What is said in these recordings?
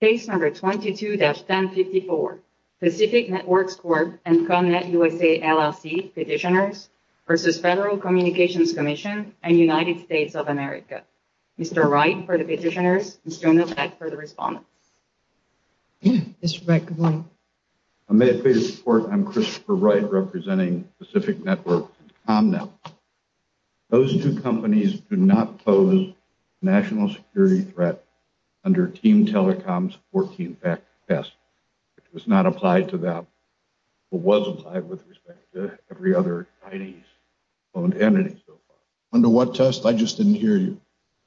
Case number 22-1054, Pacific Networks Corp. and ComNet USA LLC Petitioners v. Federal Communications Commission and United States of America. Mr. Wright for the petitioners, Mr. Omnipotent for the respondents. May I please report, I'm Christopher Wright representing Pacific Networks and ComNet. Those two companies do not pose national security threat under Team Telecom's 14-factor test. It was not applied to them, but was applied with respect to every other Chinese owned entity so far. Under what test? I just didn't hear you.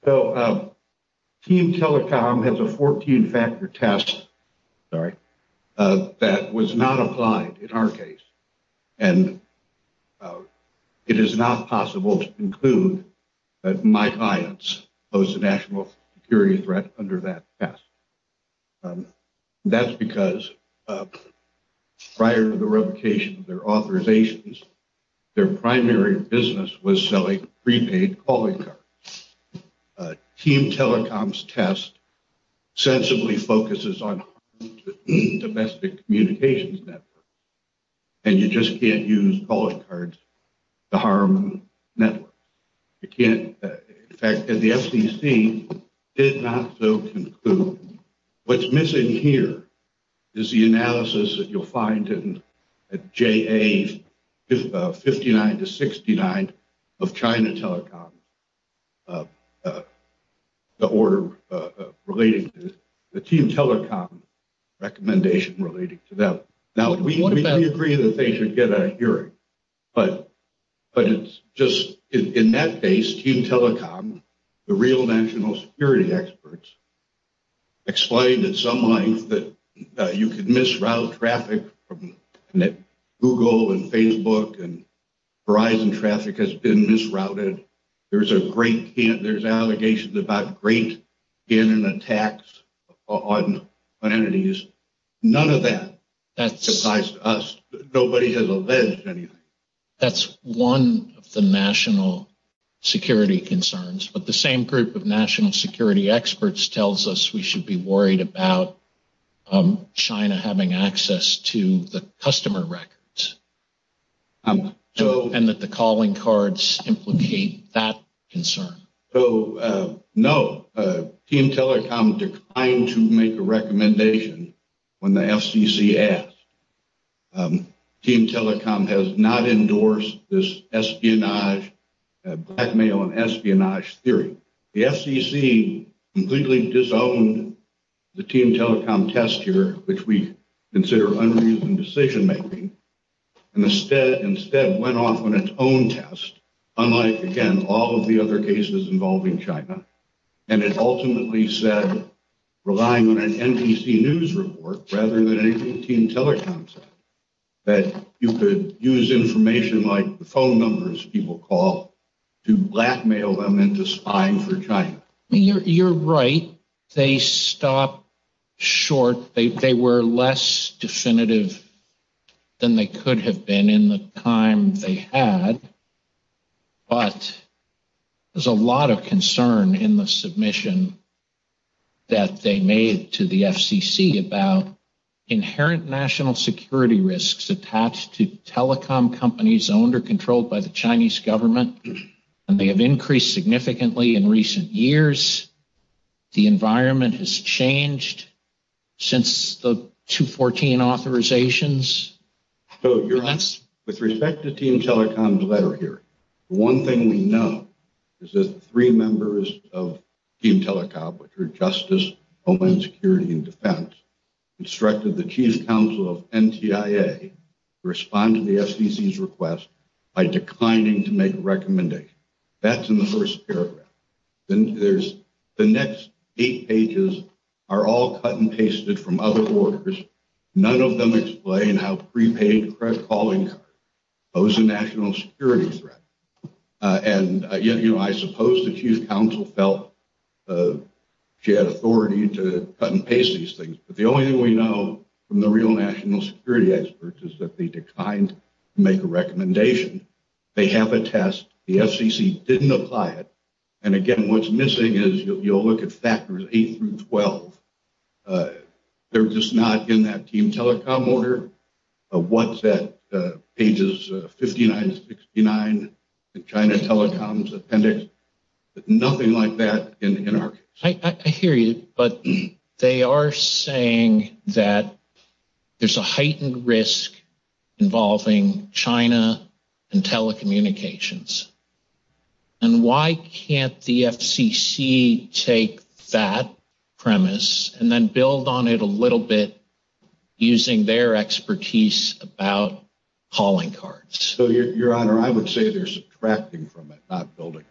So Team Telecom has a 14-factor test that was not applied in our case. And it is not possible to conclude that my clients pose a national security threat under that test. That's because prior to the revocation of their authorizations, their primary business was selling prepaid calling cards. Team Telecom's test sensibly focuses on domestic communications networks. And you just can't use calling cards to harm networks. In fact, the FCC did not so conclude. What's missing here is the analysis that you'll 69 of China Telecom, the order relating to the Team Telecom recommendation relating to that. Now, we agree that they should get a hearing, but it's just, in that case, Team Telecom, the real national security experts explained at some length that you could misroute traffic from Google and Verizon traffic has been misrouted. There's allegations about great scan and attacks on entities. None of that surprised us. Nobody has alleged anything. That's one of the national security concerns. But the same group of national security experts tells us we should be worried about China having access to the customer records. And that the calling cards implicate that concern. So, no. Team Telecom declined to make a recommendation when the FCC asked. Team Telecom has not endorsed this espionage, blackmail and espionage theory. The FCC completely disowned the Team Telecom test here, which we consider unreasoned decision-making, and instead went off on its own test, unlike, again, all of the other cases involving China. And it ultimately said, relying on an NBC News report rather than a Team Telecom test, that you could use information like the phone numbers people call to blackmail them into spying for China. You're right. They stopped short. They were less definitive than they could have been in the time they had. But there's a lot of concern in the submission that they made to the FCC about inherent national security risks attached to and they have increased significantly in recent years. The environment has changed since the 2014 authorizations. So, with respect to Team Telecom's letter here, one thing we know is that three members of Team Telecom, which are Justice Homeland Security and Defense, instructed the Chief Counsel of NTIA to respond to the FCC's request by declining to make a recommendation. That's in the first paragraph. Then there's the next eight pages are all cut and pasted from other orders. None of them explain how prepaid credit calling cards pose a national security threat. And, you know, I suppose the Chief Counsel felt she had authority to cut and paste these things. But the only thing we know from the real national security experts is that they declined to make a recommendation. They have a test. The FCC didn't apply it. And, again, what's missing is you'll look at factors eight through 12. They're just not in that Team Telecom order. What's that pages 59 and 69, the China Telecom's appendix. Nothing like that in our case. I hear you, but they are saying that there's a heightened risk involving China and telecommunications. And why can't the FCC take that premise and then build on it a little bit using their expertise about calling cards? So, Your Honor, I would say they're subtracting from it, not building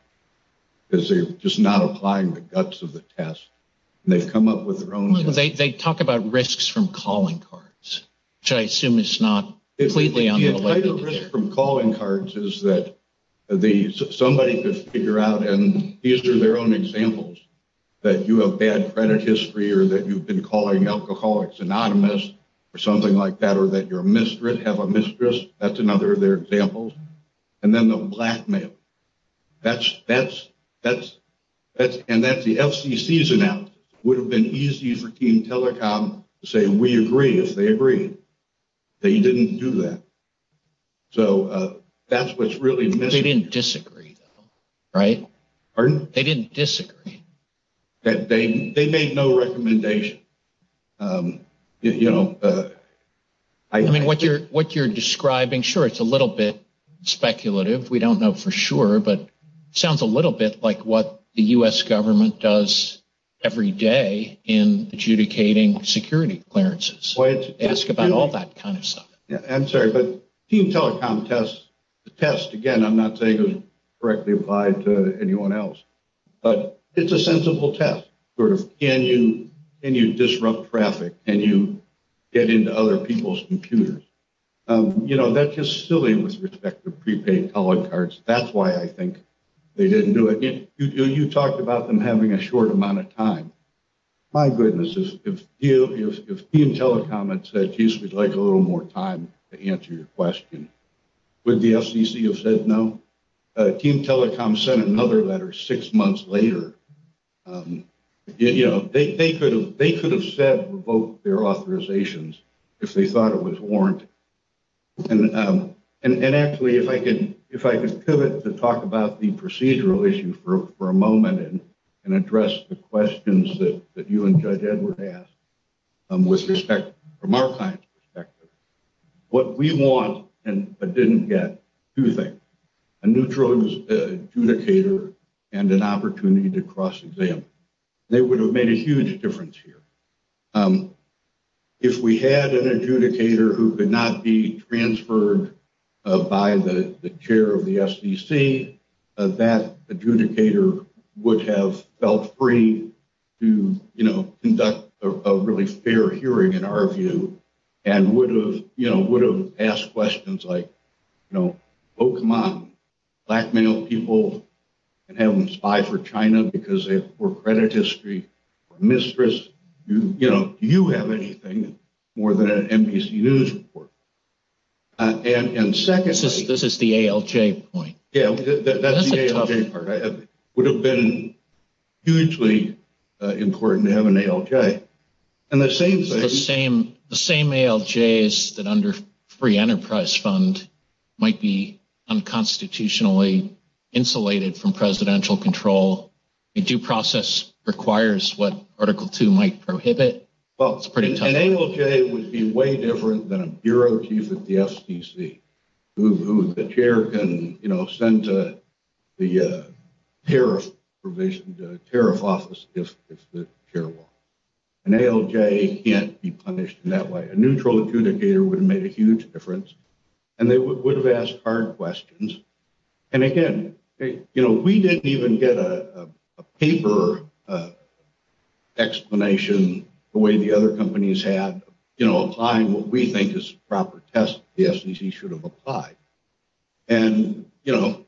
because they're just not applying the guts of the test. They've come up with their own. They talk about risks from calling cards. Should I assume it's not completely? From calling cards is that somebody could figure out and these are their own examples that you have bad credit history or that you've been calling alcoholics anonymous or something like that, or that your mistress have a mistress. That's another of their examples. And then the blackmail. And that's the FCC's analysis. Would have been easy for Team Telecom to say we agree if they agree. They didn't do that. So, that's what's really missing. They didn't disagree though, right? Pardon? They didn't disagree. They made no recommendation. I mean, what you're describing, sure, it's a little bit speculative. We don't know for sure, but it sounds a little bit like what the U.S. government does every day in adjudicating security clearances. They ask about all that kind of stuff. Yeah, I'm sorry, but Team Telecom test, the test, again, I'm not saying it was correctly applied to anyone else, but it's a sensible test, sort of, can you disrupt traffic? Can you get into other people's computers? You know, that's just silly with respect to prepaid calling cards. That's why I think they didn't do it. You talked about them having a short amount of time. My goodness, if Team Telecom had said, geez, we'd like a little more time to answer your question, would the FCC have said no? Team Telecom sent another letter six months later. You know, they could have said revoke their authorizations if they thought it was warranted. And actually, if I could pivot to talk about the procedural issue for a moment and address the questions that you and Judge Edward asked from our client's perspective, what we want and didn't get, two things, a neutral adjudicator and an opportunity to cross-examine. They would have made a huge difference here. If we had an adjudicator who could not be transferred by the FCC, that adjudicator would have felt free to conduct a really fair hearing, in our view, and would have asked questions like, oh, come on, black male people can have them spy for China because they have poor credit history or mistress. You know, do you have anything more than an NBC News report? And secondly... This is the ALJ point. Yeah, that's the ALJ part. It would have been hugely important to have an ALJ. And the same thing... The same ALJs that under free enterprise fund might be unconstitutionally insulated from presidential control. A due process requires what than a bureau chief at the FCC, who the chair can send to the tariff office if the chair will. An ALJ can't be punished in that way. A neutral adjudicator would have made a huge difference and they would have asked hard questions. And again, we didn't even get a paper explanation the way the other companies had, you know, applying what we think is proper tests the FCC should have applied. And, you know,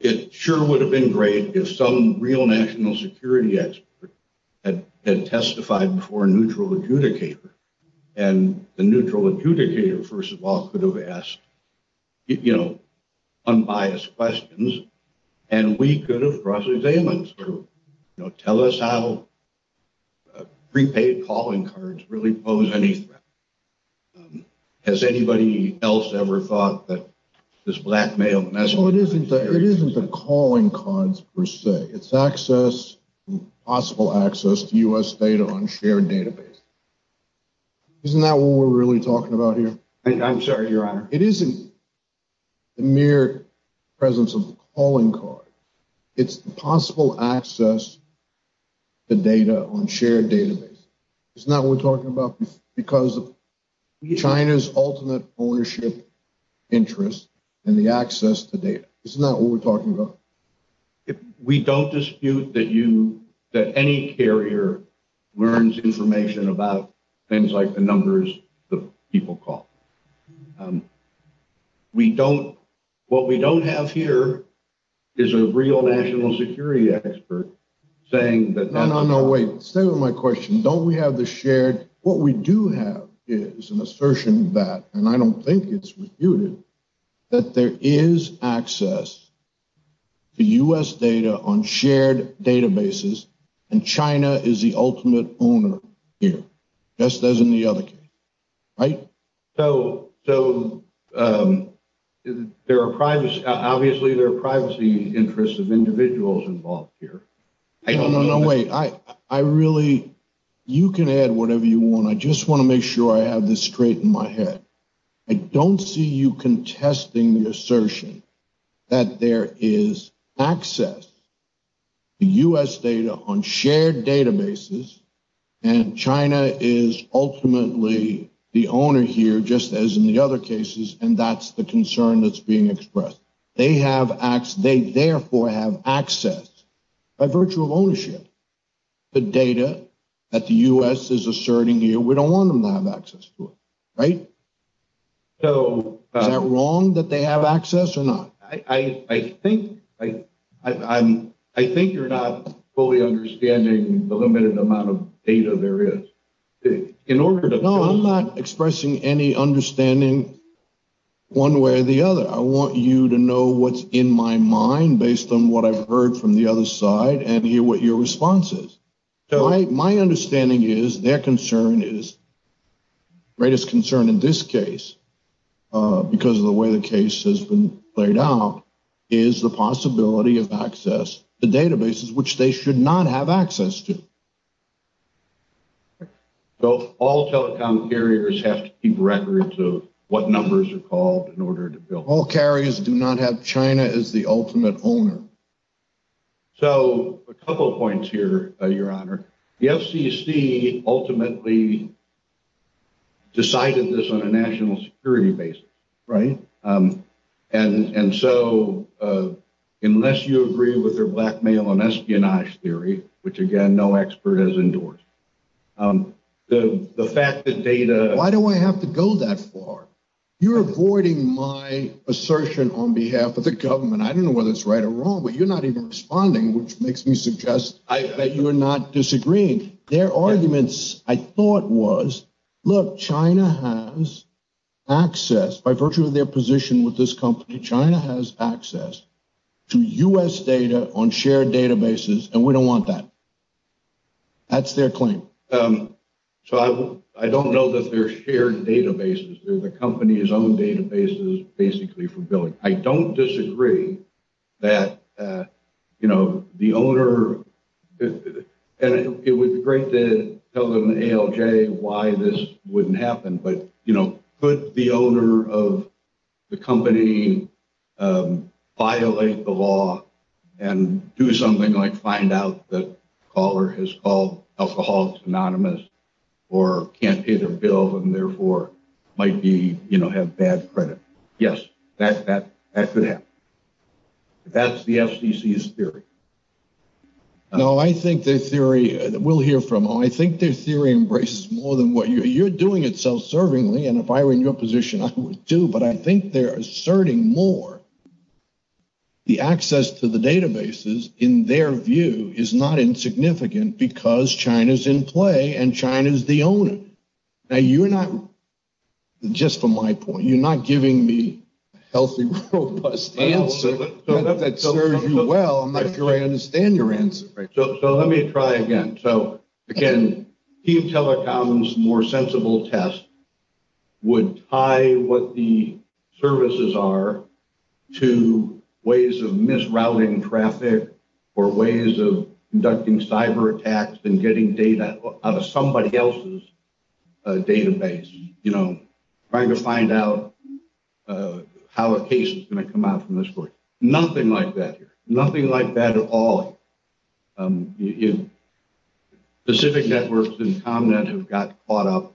it sure would have been great if some real national security expert had testified before a neutral adjudicator. And the neutral adjudicator, first of all, could have asked, you know, unbiased questions, and we could have brought in a special examiner to tell us how prepaid calling cards really pose any threat. Has anybody else ever thought that this blackmail message... Well, it isn't the calling cards per se. It's access, possible access to U.S. data on shared database. Isn't that what we're really talking about here? I'm sorry, your honor. It isn't the mere presence of the calling card. It's the possible access to data on shared database. Isn't that what we're talking about? Because of China's ultimate ownership interest in the access to data. Isn't that what we're talking about? We don't dispute that any carrier learns information about things like the numbers the people call. What we don't have here is a real national security expert saying that... No, no, no, wait. Stay with my question. Don't we have the shared... What we do have is an assertion that, and I don't think it's refuted, that there is access to U.S. data on shared databases and China is the ultimate owner here, just as in the other case, right? So, there are privacy... Obviously, there are privacy interests of individuals involved here. I don't know... No, no, no, wait. I really... You can add whatever you want. I just want to make sure I have this straight in my head. I don't see you contesting the assertion that there is access to U.S. data on shared databases and China is ultimately the owner here, just as in the other cases, and that's the concern that's being expressed. They therefore have access by virtue of ownership to data that the U.S. is asserting here. We don't want them to have access to it, right? Is that wrong that they have access or not? I think you're not fully understanding the limited amount of data there is. In order to... No, I'm not expressing any understanding one way or the other. I want you to know what's in my mind based on what I've heard from the other side and hear what your response is. My understanding is concern is, greatest concern in this case, because of the way the case has been played out, is the possibility of access to databases which they should not have access to. So all telecom carriers have to keep records of what numbers are called in order to build... All carriers do not have China as the ultimate owner. So a couple of points here, Your Honor. The FCC ultimately decided this on a national security basis, right? And so unless you agree with their blackmail and espionage theory, which again, no expert has endorsed, the fact that data... Why do I have to go that far? You're avoiding my assertion on behalf of the government. I don't know whether it's right or wrong, but you're not even responding, which makes me suggest that you're not disagreeing. Their arguments, I thought, was, look, China has access by virtue of their position with this company. China has access to U.S. data on shared databases, and we don't want that. That's their claim. So I don't know that they're shared databases. They're the company's own databases, basically, for billing. I don't disagree that the owner... And it would be great to tell them in ALJ why this wouldn't happen, but could the owner of the company violate the law and do something like find out that caller has called Alcoholics Anonymous or can't pay their bill and therefore might have bad credit? Yes, that could happen. That's the FCC's theory. No, I think their theory... We'll hear from them. I think their theory embraces more than what... You're doing it self-servingly, and if I were in your position, I would too, but I think they're asserting more the access to the databases, in their view, is not insignificant because China's in play and China's the owner. Now, you're not... Just from my point, you're not giving me a healthy, robust answer that serves you well. I'm not sure I understand your answer. So let me try again. So again, Team Telecom's more sensible test would tie what the services are to ways of misrouting traffic or ways of conducting cyber attacks and getting data out of somebody else's database, trying to find out how a case is going to come out from this source. Nothing like that here. The specific networks in ComNet have got caught up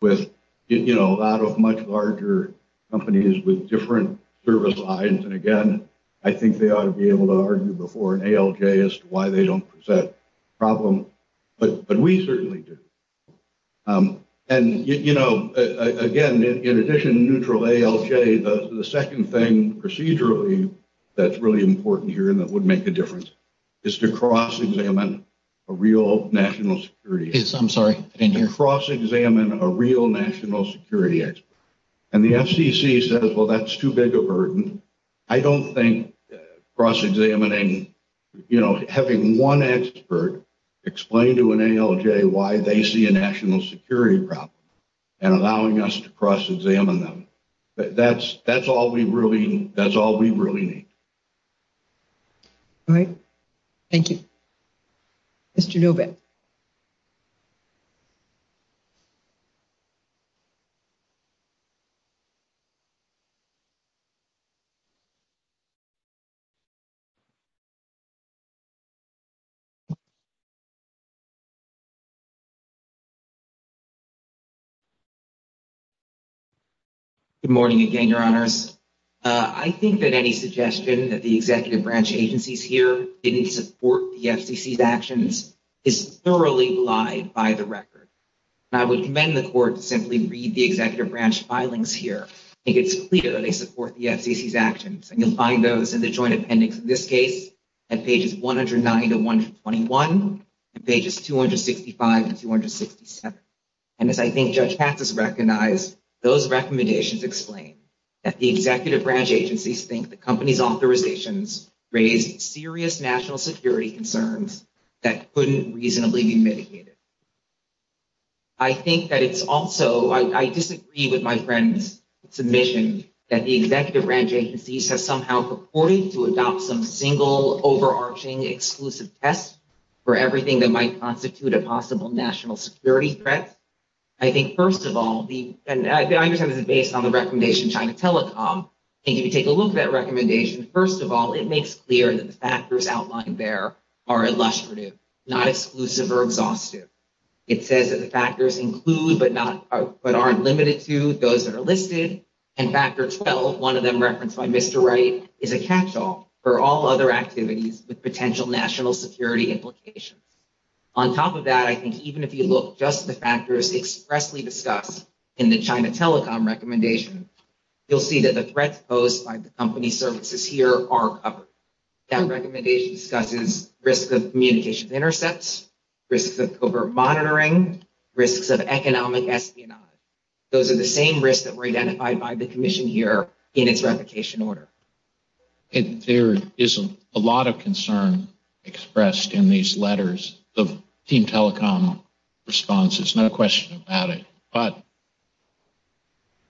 with a lot of much larger companies with different service lines, and again, I think they ought to be able to argue before an ALJ as to why they don't present a problem, but we certainly do. And again, in addition to neutral ALJ, the second thing procedurally that's really important here and that would make a difference is to cross-examine a real national security... Yes, I'm sorry. To cross-examine a real national security expert. And the FCC says, well, that's too big a burden. I don't think cross-examining, you know, having one expert explain to an ALJ why they see a national security problem and allowing us to cross-examine them. That's all we really need. All right. Thank you. Mr. Novak. Good morning again, Your Honors. I think that any suggestion that the executive branch agencies here didn't support the FCC's actions is thoroughly lied by the record. I would commend the Court to simply read the executive branch filings here. I think it's clear that they support the FCC's actions, and you'll find those in the joint appendix in this case at pages 109 to 121 and pages 265 and 267. And as I think Judge Patz has recognized, those recommendations explain that the executive branch agencies think the company's authorizations raise serious national security concerns that couldn't reasonably be mitigated. I think that it's also... I disagree with my friend's submission that the executive branch agencies have somehow purported to adopt some single overarching exclusive test for everything that might constitute a possible national security threat. I think, first of all, and I understand this is based on the recommendation of China Telecom, and if you take a look at that recommendation, first of all, it makes clear that the factors outlined there are illustrative, not exclusive or exhaustive. It says that the factors include, but aren't limited to, those that are listed, and Factor 12, one of them referenced by Mr. Wright, is a catch-all for all other activities with potential national security implications. On top of that, I think even if you look just at the factors expressly discussed in the China Telecom recommendation, you'll see that the threats posed by the company services here are covered. That recommendation discusses risks of communication intercepts, risks of covert monitoring, risks of economic espionage. Those are the same risks that were identified by the commission here in its replication order. And there is a lot of concern expressed in these letters of Team Telecom responses, no question about it, but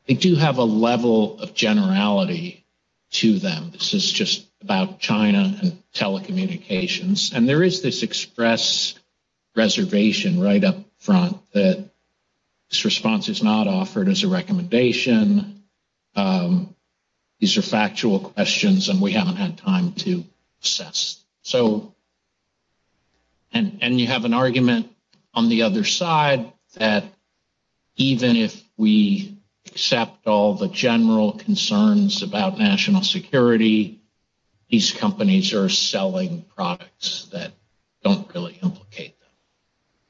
they do have a level of generality to them. This is just about China and telecommunications, and there is this express reservation right up front that this response is not offered as a recommendation. These are factual questions, and we haven't had time to assess. So, and you have an argument on the other side that even if we accept all the general concerns about national security, these companies are selling products that don't really implicate them.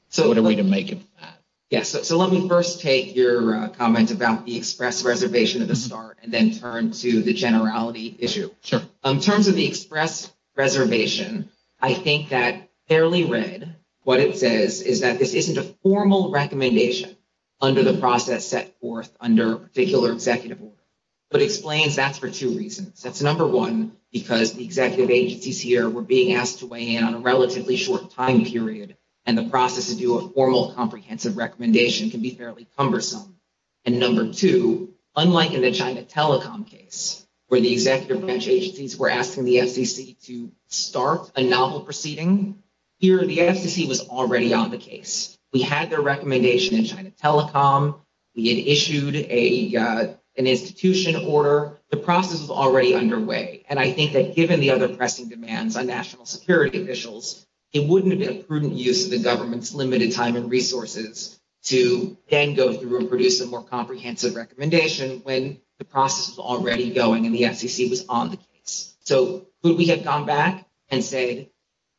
So what are we to make of that? Yes, so let me first take your comment about the express reservation at the start, and then turn to the generality issue. Sure. In terms of the express reservation, I think that fairly read, what it says is that this isn't a formal recommendation under the process set forth under a particular executive order, but explains that for two reasons. That's number one, because the executive agencies here were being asked to weigh in on a relatively short time period, and the process to do a formal comprehensive recommendation can be fairly cumbersome. And number two, unlike in the China Telecom case, where the executive branch agencies were asking the FCC to start a novel proceeding, here the FCC was already on the case. We had their recommendation in China Telecom. We had issued an institution order. The process was already underway, and I think that given the other pressing demands on national security officials, it wouldn't have been a prudent use of the government's limited time and resources to then go through and produce a more comprehensive recommendation when the process was already going, and the FCC was on the case. So, would we have gone back and said,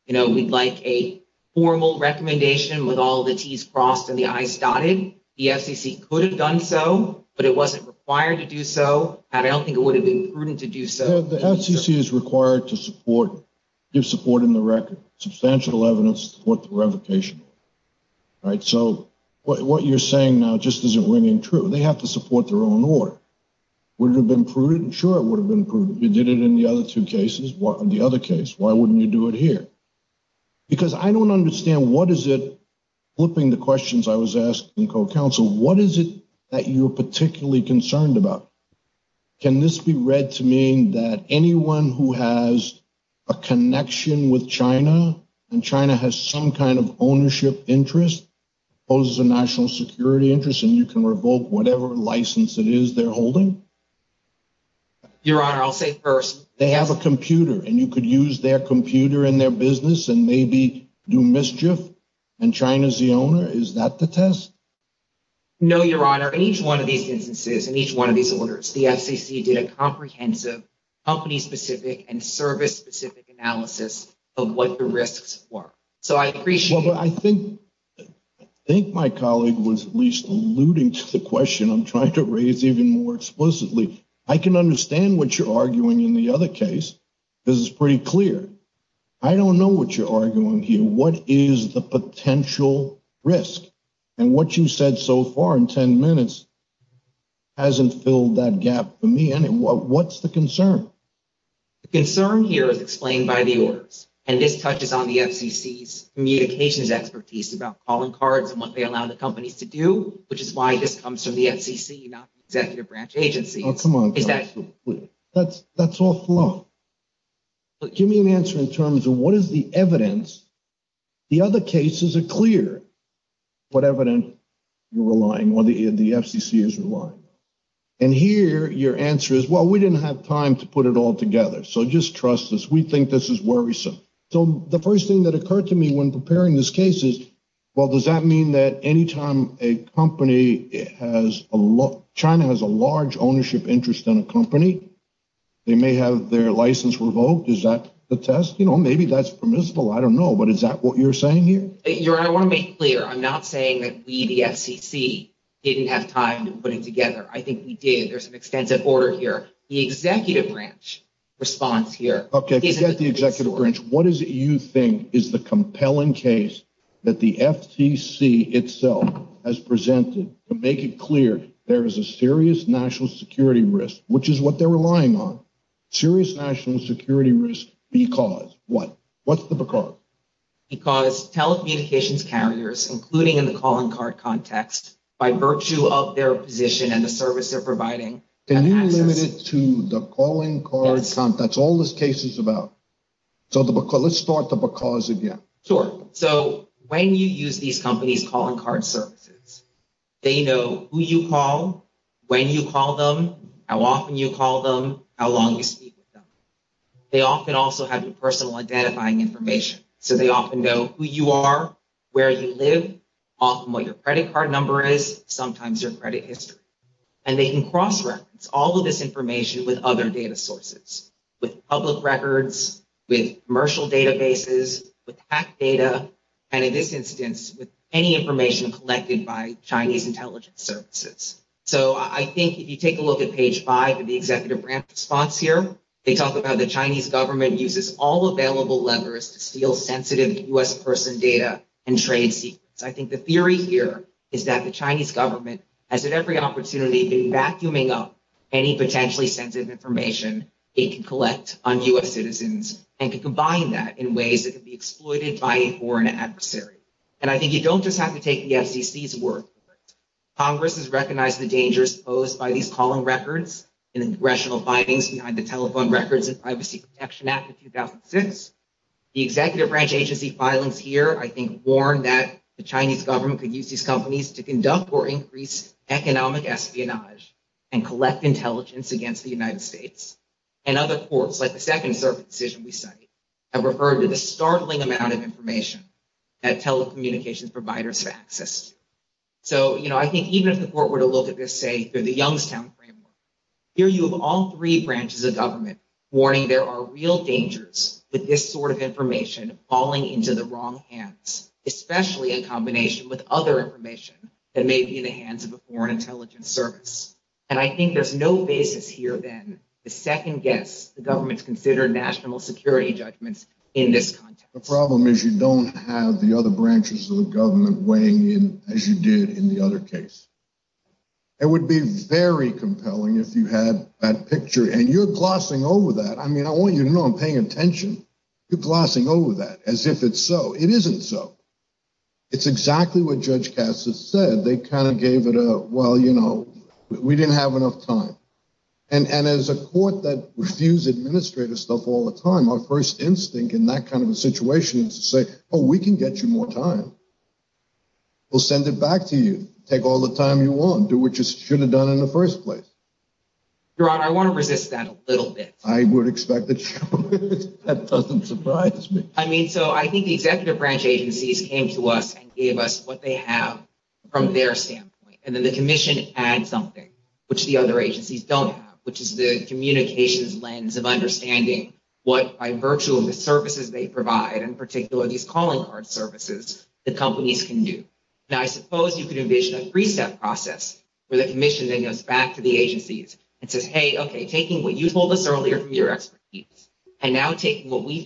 you know, we'd like a formal recommendation with all the T's crossed and the I's dotted? The FCC could have done so, but it wasn't required to do so, and I don't think it would have been prudent to do so. The FCC is required to support, give support in the record, substantial evidence to support the own order. Would it have been prudent? Sure, it would have been prudent. You did it in the other two cases, the other case. Why wouldn't you do it here? Because I don't understand what is it, flipping the questions I was asked in co-counsel, what is it that you're particularly concerned about? Can this be read to mean that anyone who has a connection with China, and China has some ownership interest, poses a national security interest, and you can revoke whatever license it is they're holding? Your Honor, I'll say first. They have a computer, and you could use their computer in their business and maybe do mischief, and China's the owner. Is that the test? No, Your Honor. In each one of these instances, in each one of these orders, the FCC did a I think my colleague was at least alluding to the question I'm trying to raise even more explicitly. I can understand what you're arguing in the other case. This is pretty clear. I don't know what you're arguing here. What is the potential risk? And what you said so far in 10 minutes hasn't filled that gap for me. What's the concern? The concern here is explained by the orders, and this touches on the FCC's communications expertise about calling cards and what they allow the companies to do, which is why this comes from the FCC, not the executive branch agency. Oh, come on. That's awful. Give me an answer in terms of what is the evidence. The other cases are clear what evidence you're relying on, the FCC is relying on. And here, your answer is, well, we didn't have time to put it all together. So just trust us. We think this is worrisome. So the first thing that occurred to me when preparing this case is, well, does that mean that anytime a company has a look, China has a large ownership interest in a company, they may have their license revoked? Is that the test? Maybe that's permissible. I don't know. But is that what you're saying here? Your Honor, I want to be clear. I'm not saying that we, the FCC, didn't have time to put it together. I think we did. There's an extensive order here. The executive branch response here... Okay, forget the executive branch. What is it you think is the compelling case that the FCC itself has presented to make it clear there is a serious national security risk, which is what they're relying on? Serious national security risk because what? What's the because? Because telecommunications carriers, including in the calling card context, by virtue of their position and the service they're providing... Can you limit it to the calling card context? That's all this case is about. So let's start the because again. Sure. So when you use these companies' calling card services, they know who you call, when you call them, how often you call them, how long you speak with them. They often also have your personal identifying information. So they often know who you are, where you live, often what your credit card number is, sometimes your credit history. And they can cross-reference all of this information with other data sources, with public records, with commercial databases, with hacked data, and in this instance, with any information collected by Chinese intelligence services. So I think if you take a look at page five of the executive branch response here, they talk about the Chinese government uses all available levers to steal sensitive U.S. person data and trade secrets. I think the theory here is that the Chinese government has at every opportunity been vacuuming up any potentially sensitive information it can collect on U.S. citizens and can combine that in ways that can be exploited by a foreign adversary. And I think you don't just have to take the FCC's word for it. Congress has recognized the dangers posed by these calling records and the congressional findings behind the Telephone Records and Privacy Protection Act of 2006. The executive branch agency filings here, I think, warn that the Chinese government could use these companies to conduct or increase economic espionage and collect intelligence against the United States. And other courts, like the Second Circuit decision we cite, have referred to the startling amount of information that telecommunications providers have accessed. So, you know, I think even if the court were to look at this, say, through the Youngstown framework, here you have all three branches of government warning there are real dangers with this sort of information falling into the wrong hands, especially in combination with other information that may be in the hands of a foreign intelligence service. And I think there's no basis here then to second guess the government's considered national security judgments in this context. The problem is you don't have the other branches of the government weighing in as you did in the other case. It would be very compelling if you had that picture and you're glossing over that. I mean, I want you to know I'm paying attention. You're glossing over that as if it's so. It isn't so. It's exactly what Judge Cass has said. They kind of gave it a, well, you know, we didn't have enough time. And as a court that refuses administrative stuff all the time, our first instinct in that kind of a situation is to say, oh, we can get you more time. We'll send it back to you, take all the time you want, do what you should have done in the first place. Your Honor, I want to resist that a little bit. I would expect that. That doesn't surprise me. I mean, so I think the executive branch agencies came to us and gave us what they have from their standpoint. And then the commission adds something, which the other agencies don't have, which is the communications lens of understanding what, by virtue of the services they provide, in particular these calling card services, the companies can do. Now, I suppose you could envision a three-step process where the commission then goes back to the agencies and says, hey, OK, taking what you told us earlier from your expertise and now taking what we've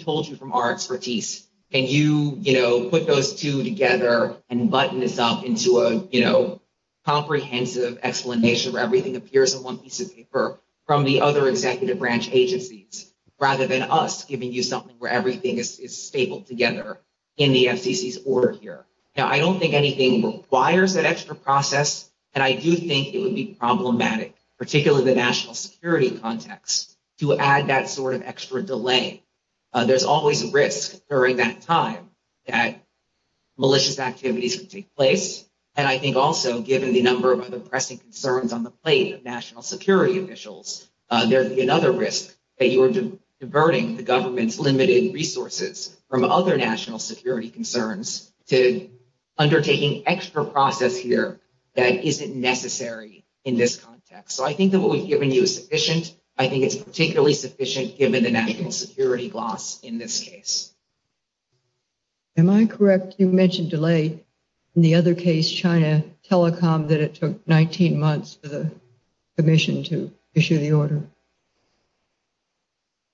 together and button this up into a comprehensive explanation where everything appears in one piece of paper from the other executive branch agencies, rather than us giving you something where everything is stapled together in the FCC's order here. Now, I don't think anything requires that extra process. And I do think it would be problematic, particularly in the national security context, to add that sort of extra delay. There's always risk during that time that malicious activities could take place. And I think also, given the number of other pressing concerns on the plate of national security officials, there's another risk that you are diverting the government's limited resources from other national security concerns to undertaking extra process here that isn't necessary in this context. So I think that what we've given you is sufficient. I think it's particularly sufficient given the national security loss in this case. Am I correct? You mentioned delay in the other case, China telecom, that it took 19 months for the commission to issue the order.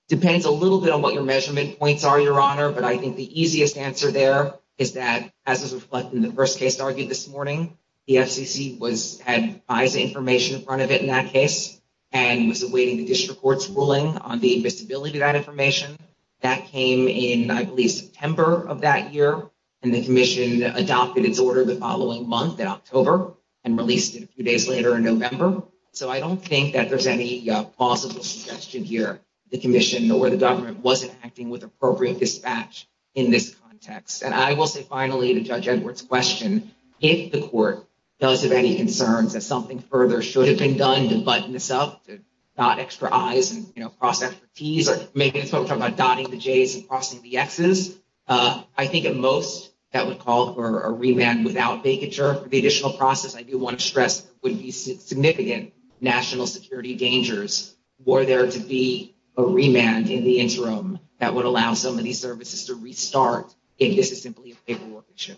Depends a little bit on what your measurement points are, Your Honor. But I think the easiest answer there is that, as was reflected in the first case argued this morning, the FCC was had biased information in front of it in that case and was awaiting the district court's ruling on the visibility of that information. That came in, I believe, September of that year, and the commission adopted its order the following month, in October, and released it a few days later in November. So I don't think that there's any possible suggestion here the commission or the government wasn't acting with appropriate dispatch in this context. And I will say finally, to Judge Edwards' question, if the court does have any concerns that something further should have been done to button this up, to dot extra I's and cross that for T's, or maybe it's what we're talking about, dotting the J's and crossing the X's, I think at most that would call for a remand without vacature. The additional process, I do want to stress, would be significant national security dangers were there to be a remand in the interim that would allow some of these services to restart if this is simply a paperwork issue.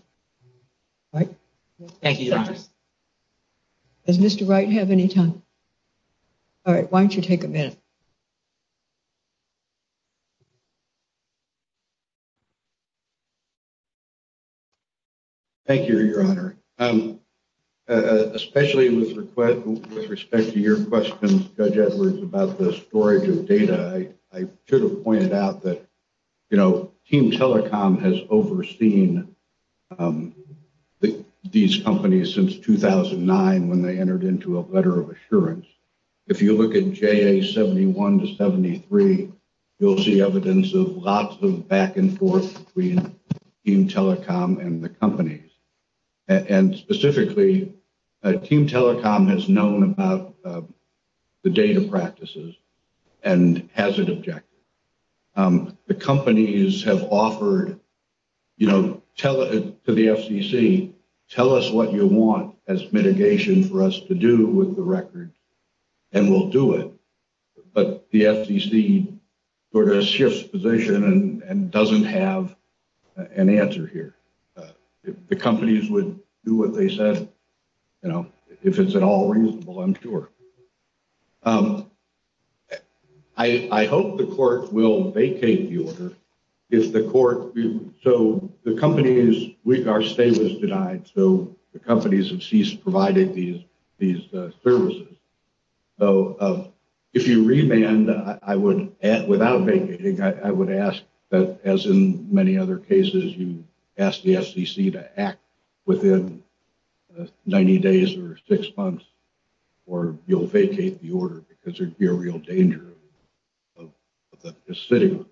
Thank you, Your Honor. Does Mr. Wright have any time? All right, why don't you take a minute? Thank you, Your Honor. Especially with respect to your question, Judge Edwards, about the storage of data, I should have pointed out that, you know, a letter of assurance. If you look at JA71 to 73, you'll see evidence of lots of back and forth between Team Telecom and the companies. And specifically, Team Telecom has known about the data practices and has an objective. The companies have offered, you know, to the FCC, tell us what you want as mitigation for us to do with the record, and we'll do it. But the FCC sort of shifts position and doesn't have an answer here. The companies would do what they said, you know, if it's at all reasonable, I'm sure. I hope the court will vacate the order if the court, so the companies, our stay was denied, so the companies have ceased providing these services. So if you remand, I would, without vacating, I would ask that, as in many other cases, you ask the FCC to act within 90 days or six months, or you'll vacate the order because there'd be a real danger of the sitting. Thank you.